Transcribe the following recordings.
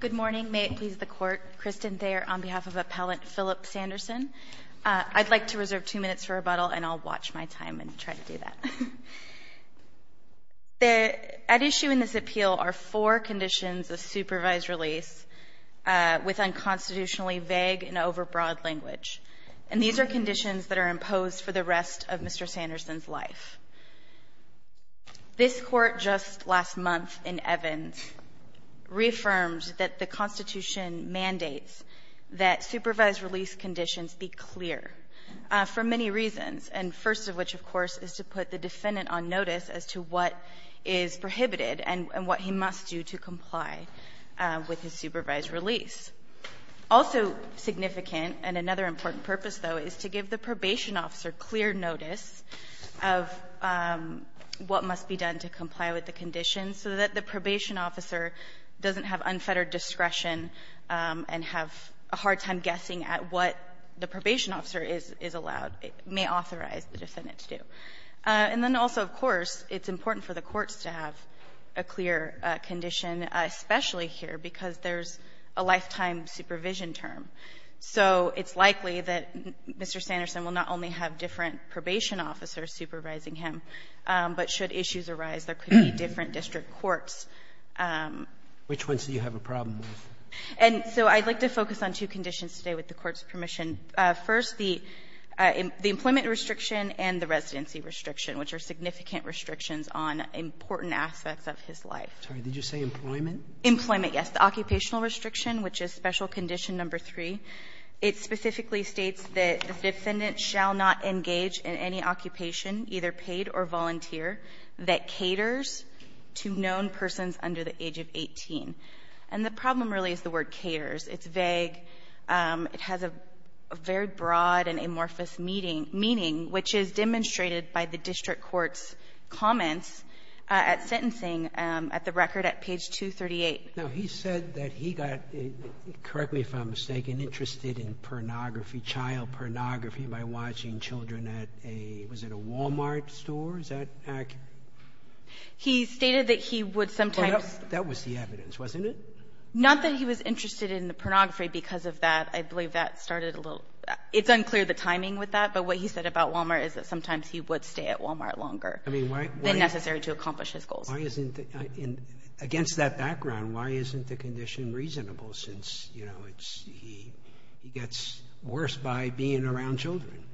Good morning. May it please the Court, Kristen Thayer on behalf of Appellant Phillip Sanderson. I'd like to reserve two minutes for rebuttal and I'll watch my time and try to do that. At issue in this appeal are four conditions of supervised release with unconstitutionally vague and overbroad language. And these are conditions that are imposed for the rest of Mr. Sanderson's life. This Court just last month in Evans reaffirmed that the Constitution mandates that supervised release conditions be clear for many reasons. And first of which, of course, is to put the defendant on notice as to what is prohibited and what he must do to comply with his supervised release. It's also significant, and another important purpose, though, is to give the probation officer clear notice of what must be done to comply with the conditions so that the probation officer doesn't have unfettered discretion and have a hard time guessing at what the probation officer is allowed, may authorize the defendant to do. And then also, of course, it's important for the courts to have a clear condition, especially here, because there's a lifetime supervision term. So it's likely that Mr. Sanderson will not only have different probation officers supervising him, but should issues arise, there could be different district courts. Roberts. Which ones do you have a problem with? And so I'd like to focus on two conditions today with the Court's permission. First, the employment restriction and the residency restriction, which are significant restrictions on important aspects of his life. Did you say employment? Employment, yes. The occupational restriction, which is Special Condition No. 3, it specifically states that the defendant shall not engage in any occupation, either paid or volunteer, that caters to known persons under the age of 18. And the problem really is the word caters. It's vague. It has a very broad and amorphous meaning, which is demonstrated by the district court's comments at sentencing at the record at page 238. Now, he said that he got, correct me if I'm mistaken, interested in pornography, child pornography, by watching children at a — was it a Walmart store? Is that accurate? He stated that he would sometimes — Well, that was the evidence, wasn't it? Not that he was interested in the pornography because of that. I believe that started a little — it's unclear, the timing with that. But what he said about Walmart is that sometimes he would stay at Walmart longer than necessary to accomplish his goals. Why isn't — against that background, why isn't the condition reasonable since, you know, it's — he gets worse by being around children?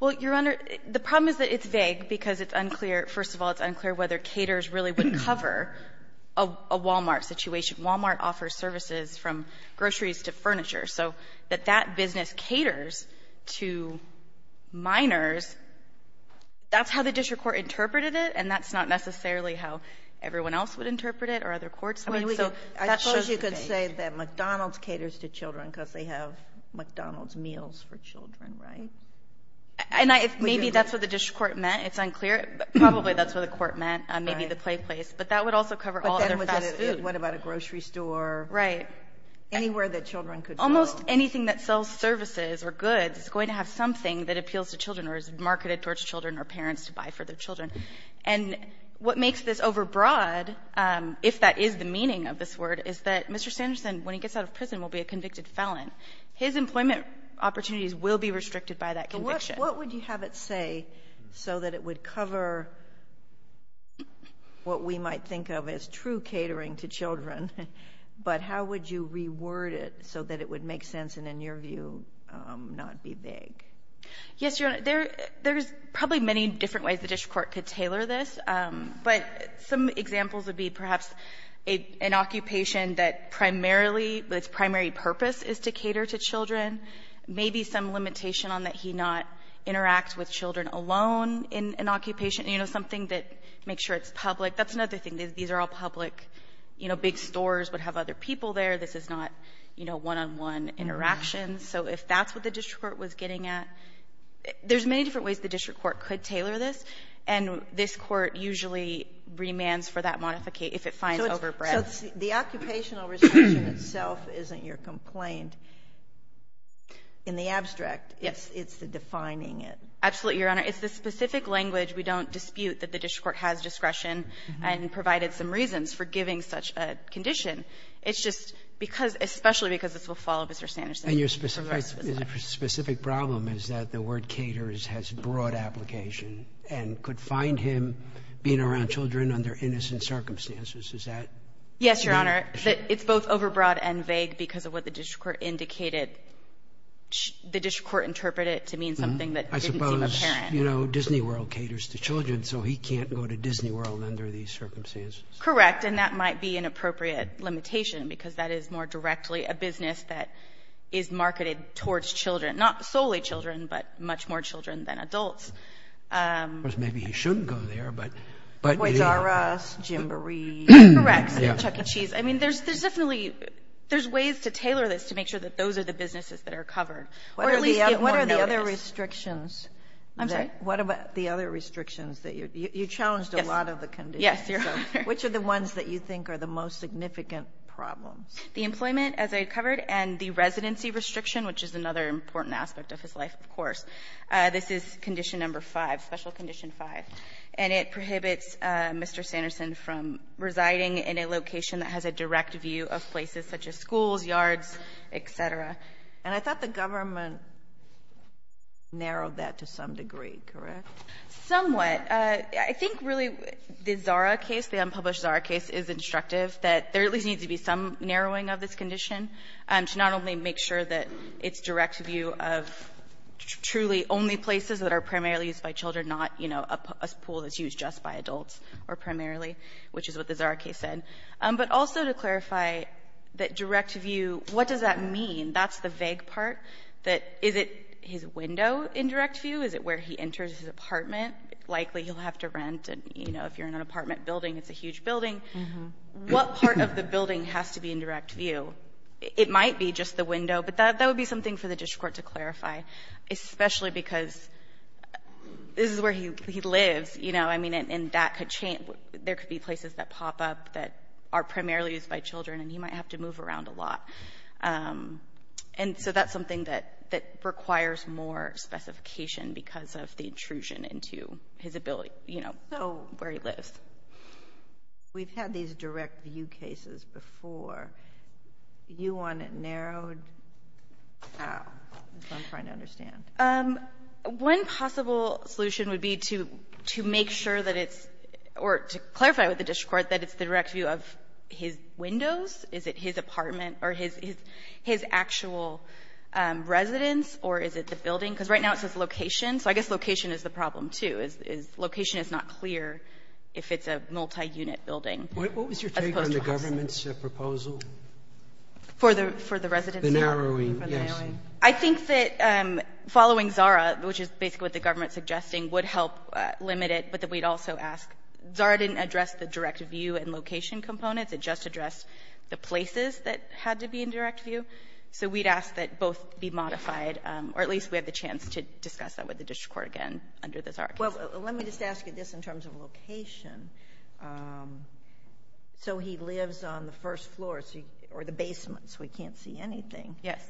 Well, Your Honor, the problem is that it's vague because it's unclear — first of all, it's unclear whether caters really would cover a Walmart situation. Walmart offers services from groceries to furniture. So that that business caters to minors, that's how the district court interpreted it, and that's not necessarily how everyone else would interpret it or other courts would. I suppose you could say that McDonald's caters to children because they have McDonald's meals for children, right? And maybe that's what the district court meant. It's unclear. Probably that's what the court meant, maybe the play place. But that would also cover all other fast food. But then what about a grocery store? Right. Anywhere that children could go. Almost anything that sells services or goods is going to have something that appeals to children or is marketed towards children or parents to buy for their children. And what makes this overbroad, if that is the meaning of this word, is that Mr. Sanderson, when he gets out of prison, will be a convicted felon. His employment opportunities will be restricted by that conviction. So what would you have it say so that it would cover what we might think of as true catering to children, but how would you reword it so that it would make sense and, in your view, not be vague? Yes, Your Honor. There's probably many different ways the district court could tailor this. But some examples would be perhaps an occupation that primarily its primary purpose is to cater to children, maybe some limitation on that he not interact with children alone in an occupation, you know, something that makes sure it's public. That's another thing. These are all public, you know, big stores would have other people there. This is not, you know, one-on-one interactions. So if that's what the district court was getting at, there's many different ways the district court could tailor this. And this Court usually remands for that modification if it finds overbreadth. So it's the occupational restriction itself isn't your complaint. In the abstract, it's the defining it. Absolutely, Your Honor. It's the specific language. We don't dispute that the district court has discretion and provided some reasons for giving such a condition. It's just because, especially because this will follow Mr. Sanderson. And your specific problem is that the word caters has broad application and could find him being around children under innocent circumstances. Is that right? Yes, Your Honor. It's both overbroad and vague because of what the district court indicated. The district court interpreted it to mean something that didn't seem apparent. You know, Disney World caters to children. So he can't go to Disney World under these circumstances. Correct. And that might be an appropriate limitation because that is more directly a business that is marketed towards children. Not solely children, but much more children than adults. Of course, maybe he shouldn't go there, but. Boyz R Us, Gymboree. Correct. Chuck E. Cheese. I mean, there's definitely, there's ways to tailor this to make sure that those are the businesses that are covered. Or at least get more notice. I'm sorry? What about the other restrictions? You challenged a lot of the conditions. Yes, Your Honor. Which are the ones that you think are the most significant problems? The employment, as I covered, and the residency restriction, which is another important aspect of his life, of course. This is condition number five, special condition five. And it prohibits Mr. Sanderson from residing in a location that has a direct view of places such as schools, yards, et cetera. And I thought the government narrowed that to some degree, correct? Somewhat. I think really the ZARA case, the unpublished ZARA case, is instructive that there at least needs to be some narrowing of this condition to not only make sure that it's direct view of truly only places that are primarily used by children, not, you know, a pool that's used just by adults, or primarily, which is what the ZARA case said. But also to clarify that direct view, what does that mean? That's the vague part, that is it his window in direct view? Is it where he enters his apartment? Likely he'll have to rent, and, you know, if you're in an apartment building, it's a huge building. What part of the building has to be in direct view? It might be just the window, but that would be something for the district court to clarify, especially because this is where he lives, you know. I mean, there could be places that pop up that are primarily used by children, and he might have to move around a lot. And so that's something that requires more specification because of the intrusion into his ability, you know, where he lives. We've had these direct view cases before. Do you want it narrowed? I'm trying to understand. One possible solution would be to make sure that it's or to clarify with the district court that it's the direct view of his windows. Is it his apartment or his actual residence, or is it the building? Because right now it says location. So I guess location is the problem, too. Location is not clear if it's a multiunit building. As opposed to housing. What was your take on the government's proposal? For the residency? The narrowing, yes. I think that following ZARA, which is basically what the government is suggesting, would help limit it, but that we'd also ask. ZARA didn't address the direct view and location components. It just addressed the places that had to be in direct view. So we'd ask that both be modified, or at least we have the chance to discuss that with the district court again under the ZARA case. Well, let me just ask you this in terms of location. So he lives on the first floor, or the basement, so he can't see anything. Yes.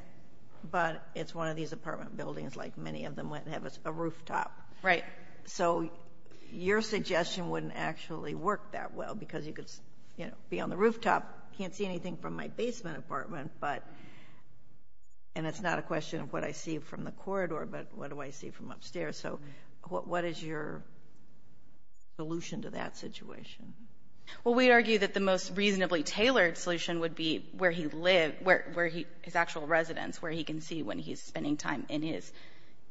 But it's one of these apartment buildings, like many of them have a rooftop. Right. So your suggestion wouldn't actually work that well, because you could be on the rooftop, can't see anything from my basement apartment, and it's not a question of what I see from the corridor, but what do I see from upstairs. So what is your solution to that situation? Well, we'd argue that the most reasonably tailored solution would be where he lives, his actual residence, where he can see when he's spending time in his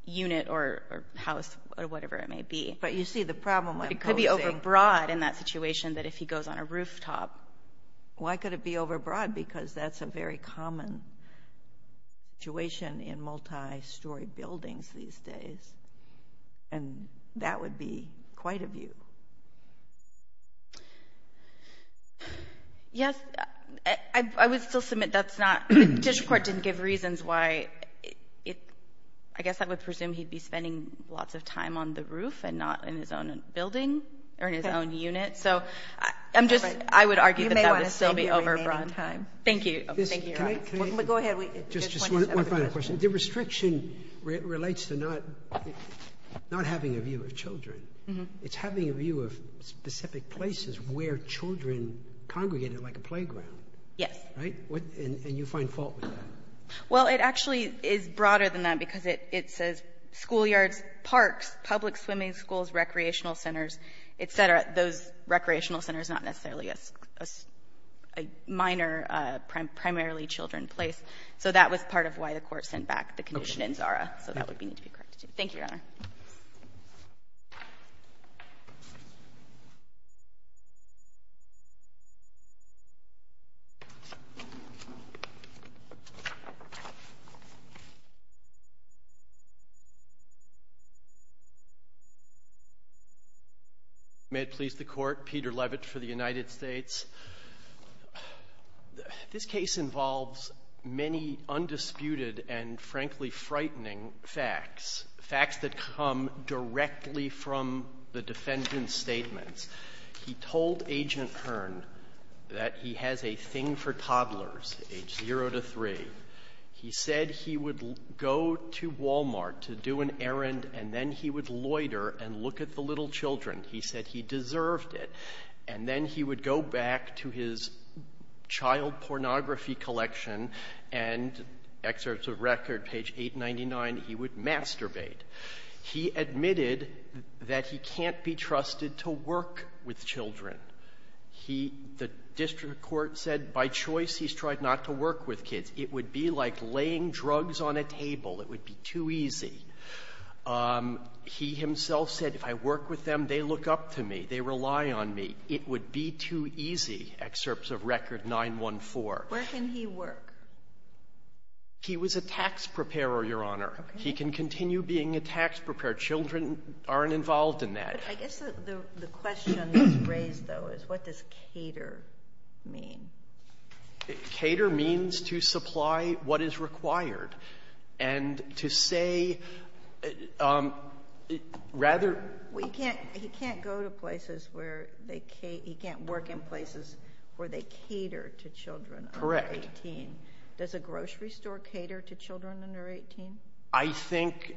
unit or house, or whatever it may be. But you see the problem I'm posing. It could be overbroad in that situation that if he goes on a rooftop. Why could it be overbroad? Because that's a very common situation in multi-story buildings these days, and that would be quite a view. Yes. I would still submit that's not – the district court didn't give reasons why – I guess I would presume he'd be spending lots of time on the roof and not in his own building or in his own unit. So I'm just – I would argue that that would still be overbroad. You may want to stay here for the remaining time. Thank you. Go ahead. Just one final question. The restriction relates to not having a view of children. It's having a view of specific places where children congregated like a playground. Yes. Right? And you find fault with that? Well, it actually is broader than that because it says schoolyards, parks, public swimming schools, recreational centers, et cetera. Those recreational centers, not necessarily a minor, primarily children place. So that was part of why the Court sent back the condition in ZARA, so that would need to be corrected, too. Thank you, Your Honor. May it please the Court. Peter Levitt for the United States. This case involves many undisputed and frankly frightening facts, facts that come directly from the defendant's statements. He told Agent Hearn that he has a thing for toddlers age 0 to 3. He said he would go to Walmart to do an errand and then he would loiter and look at the little children. He said he deserved it. And then he would go back to his child pornography collection and excerpts of record, page 899, he would masturbate. He admitted that he can't be trusted to work with children. The District Court said by choice he's tried not to work with kids. It would be like laying drugs on a table. It would be too easy. He himself said, if I work with them, they look up to me. They rely on me. It would be too easy, excerpts of record 914. Where can he work? He was a tax preparer, Your Honor. Okay. He can continue being a tax preparer. Children aren't involved in that. I guess the question that's raised, though, is what does cater mean? Cater means to supply what is required. And to say rather He can't go to places. He can't work in places where they cater to children under 18. Correct. Does a grocery store cater to children under 18? I think,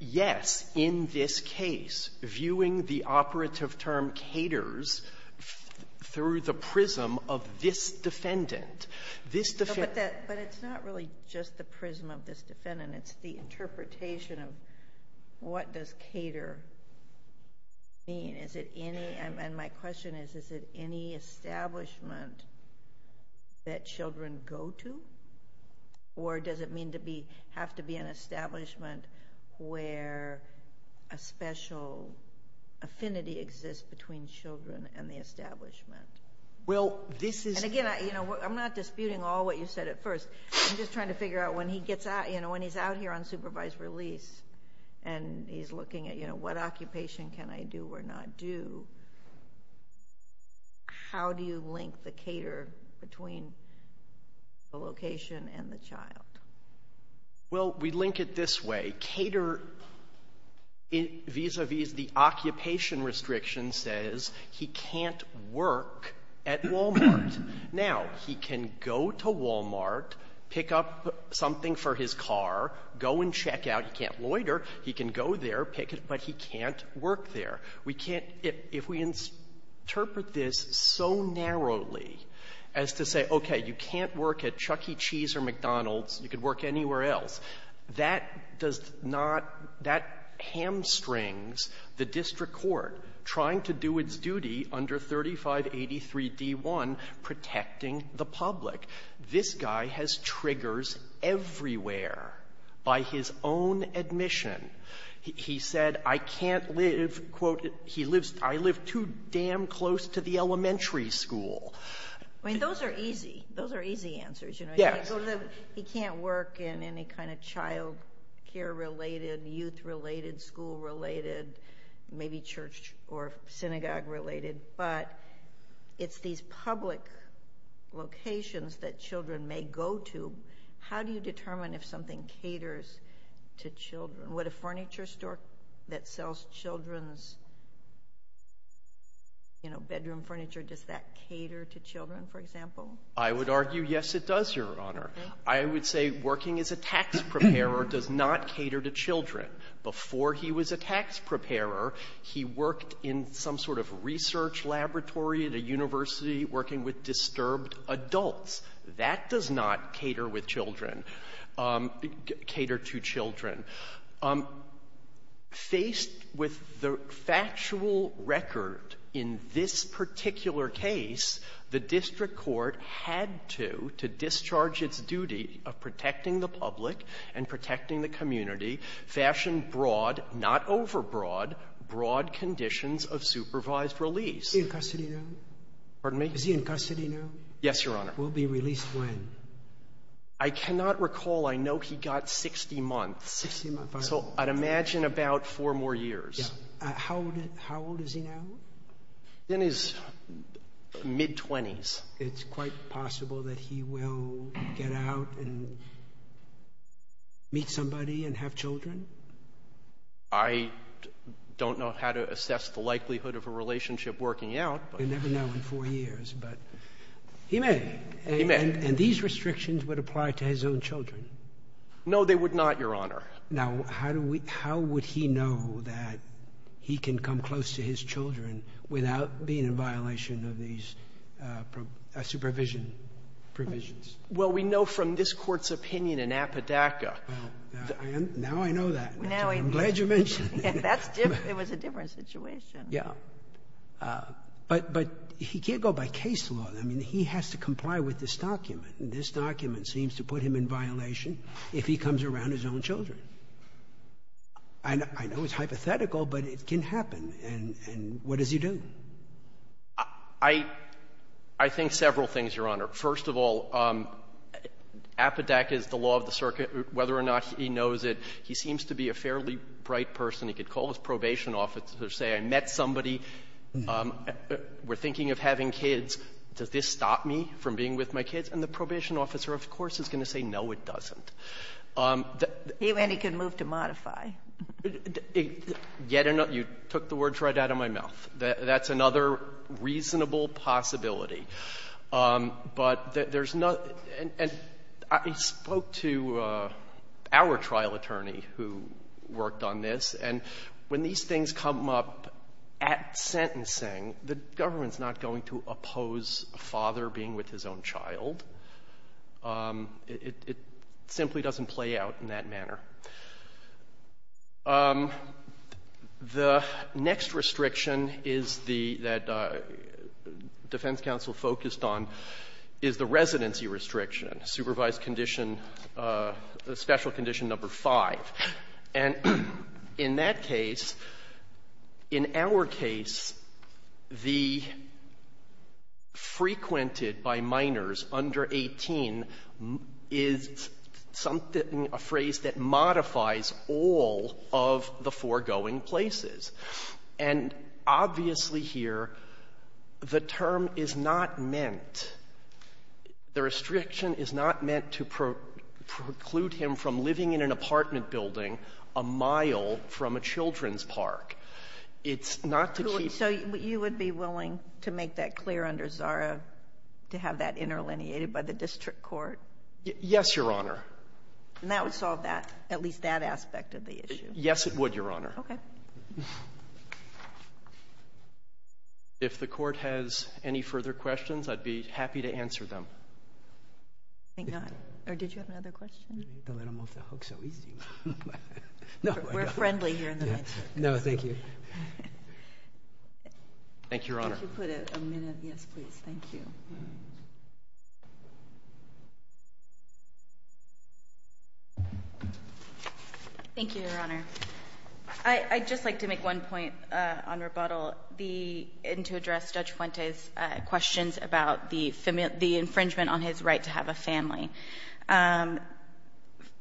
yes, in this case, viewing the operative term caters through the prism of this defendant. But it's not really just the prism of this defendant. It's the interpretation of what does cater mean? And my question is, is it any establishment that children go to? Or does it have to be an establishment where a special affinity exists between children and the establishment? Again, I'm not disputing all what you said at first. I'm just trying to figure out when he's out here on supervised release and he's looking at what occupation can I do or not do, how do you link the cater between the location and the child? Well, we link it this way. Cater vis-a-vis the occupation restriction says he can't work at Walmart. Now, he can go to Walmart, pick up something for his car, go and check out. He can't loiter. He can go there, pick it, but he can't work there. We can't — if we interpret this so narrowly as to say, okay, you can't work at Chuckie Cheese or McDonald's. You can work anywhere else, that does not — that hamstrings the district court trying to do its duty under 3583D1, protecting the public. This guy has triggers everywhere by his own admission. He said, I can't live, quote, I live too damn close to the elementary school. I mean, those are easy. Those are easy answers. Yes. He can't work in any kind of childcare-related, youth-related, school-related, maybe church or synagogue-related, but it's these public locations that children may go to. How do you determine if something caters to children? Would a furniture store that sells children's bedroom furniture, does that cater to children, for example? I would argue, yes, it does, Your Honor. I would say working as a tax preparer does not cater to children. Before he was a tax preparer, he worked in some sort of research laboratory at a university working with disturbed adults. That does not cater with children, cater to children. Faced with the factual record in this particular case, the district court had to, to discharge its duty of protecting the public and protecting the community, fashion broad, not overbroad, broad conditions of supervised release. Is he in custody now? Pardon me? Is he in custody now? Yes, Your Honor. Will be released when? I cannot recall. I know he got 60 months, so I'd imagine about four more years. Yes. How old is he now? In his mid-20s. It's quite possible that he will get out and meet somebody and have children? I don't know how to assess the likelihood of a relationship working out. You never know in four years, but he may. He may. And these restrictions would apply to his own children? No, they would not, Your Honor. Now, how would he know that he can come close to his children without being in violation of these supervision provisions? Well, we know from this Court's opinion in Appadacka. Now I know that. I'm glad you mentioned it. It was a different situation. Yes. But he can't go by case law. I mean, he has to comply with this document, and this document seems to put him in violation if he comes around his own children. I know it's hypothetical, but it can happen. And what does he do? I think several things, Your Honor. First of all, Appadacka is the law of the circuit. Whether or not he knows it, he seems to be a fairly bright person. He could call his probation officer, say, I met somebody, we're thinking of having kids, does this stop me from being with my kids? And the probation officer, of course, is going to say, no, it doesn't. He went and he could move to modify. You took the words right out of my mouth. That's another reasonable possibility. But there's no — and I spoke to our trial attorney who worked on this, and when these things come up at sentencing, the government's not going to oppose a father being with his own child. It simply doesn't play out in that manner. The next restriction is the — that defense counsel focused on is the residency restriction, supervised condition, special condition number 5. And in that case, in our case, the frequented by minors under 18 is a phrase that modifies all of the foregoing places. And obviously here, the term is not meant — the restriction is not meant to preclude him from living in an apartment building a mile from a children's park. It's not to keep — So you would be willing to make that clear under Zara to have that interlineated by the district court? Yes, Your Honor. And that would solve that, at least that aspect of the issue? Yes, it would, Your Honor. Okay. If the court has any further questions, I'd be happy to answer them. I think not. Or did you have another question? Don't let him off the hook so easy. No, I don't. We're friendly here in the night. No, thank you. Thank you, Your Honor. Could you put a minute? Yes, please. Thank you. Thank you, Your Honor. I'd just like to make one point on rebuttal. And to address Judge Fuente's questions about the infringement on his right to have a family.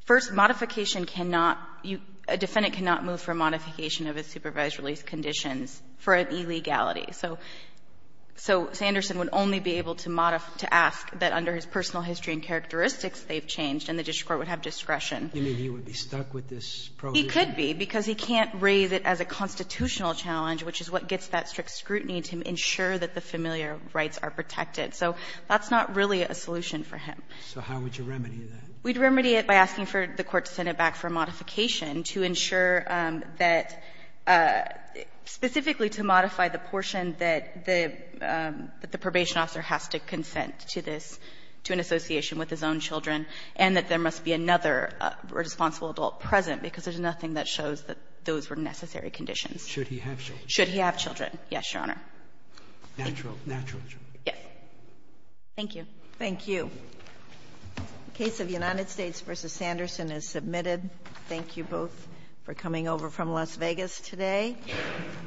First, modification cannot — a defendant cannot move for a modification of his supervised release conditions for an illegality. So Sanderson would only be able to ask that under his personal history and characteristics they've changed, and the district court would have discretion. You mean he would be stuck with this provision? He could be, because he can't raise it as a constitutional challenge, which is what gets that strict scrutiny to ensure that the familiar rights are protected. So that's not really a solution for him. So how would you remedy that? We'd remedy it by asking for the court to send it back for modification to ensure that — specifically to modify the portion that the probation officer has to consent to this, to an association with his own children, and that there must be another responsible adult present, because there's nothing that shows that those were necessary conditions. Should he have children? Should he have children, yes, Your Honor. Natural children? Yes. Thank you. Thank you. The case of United States v. Sanderson is submitted. Thank you both for coming over from Las Vegas today.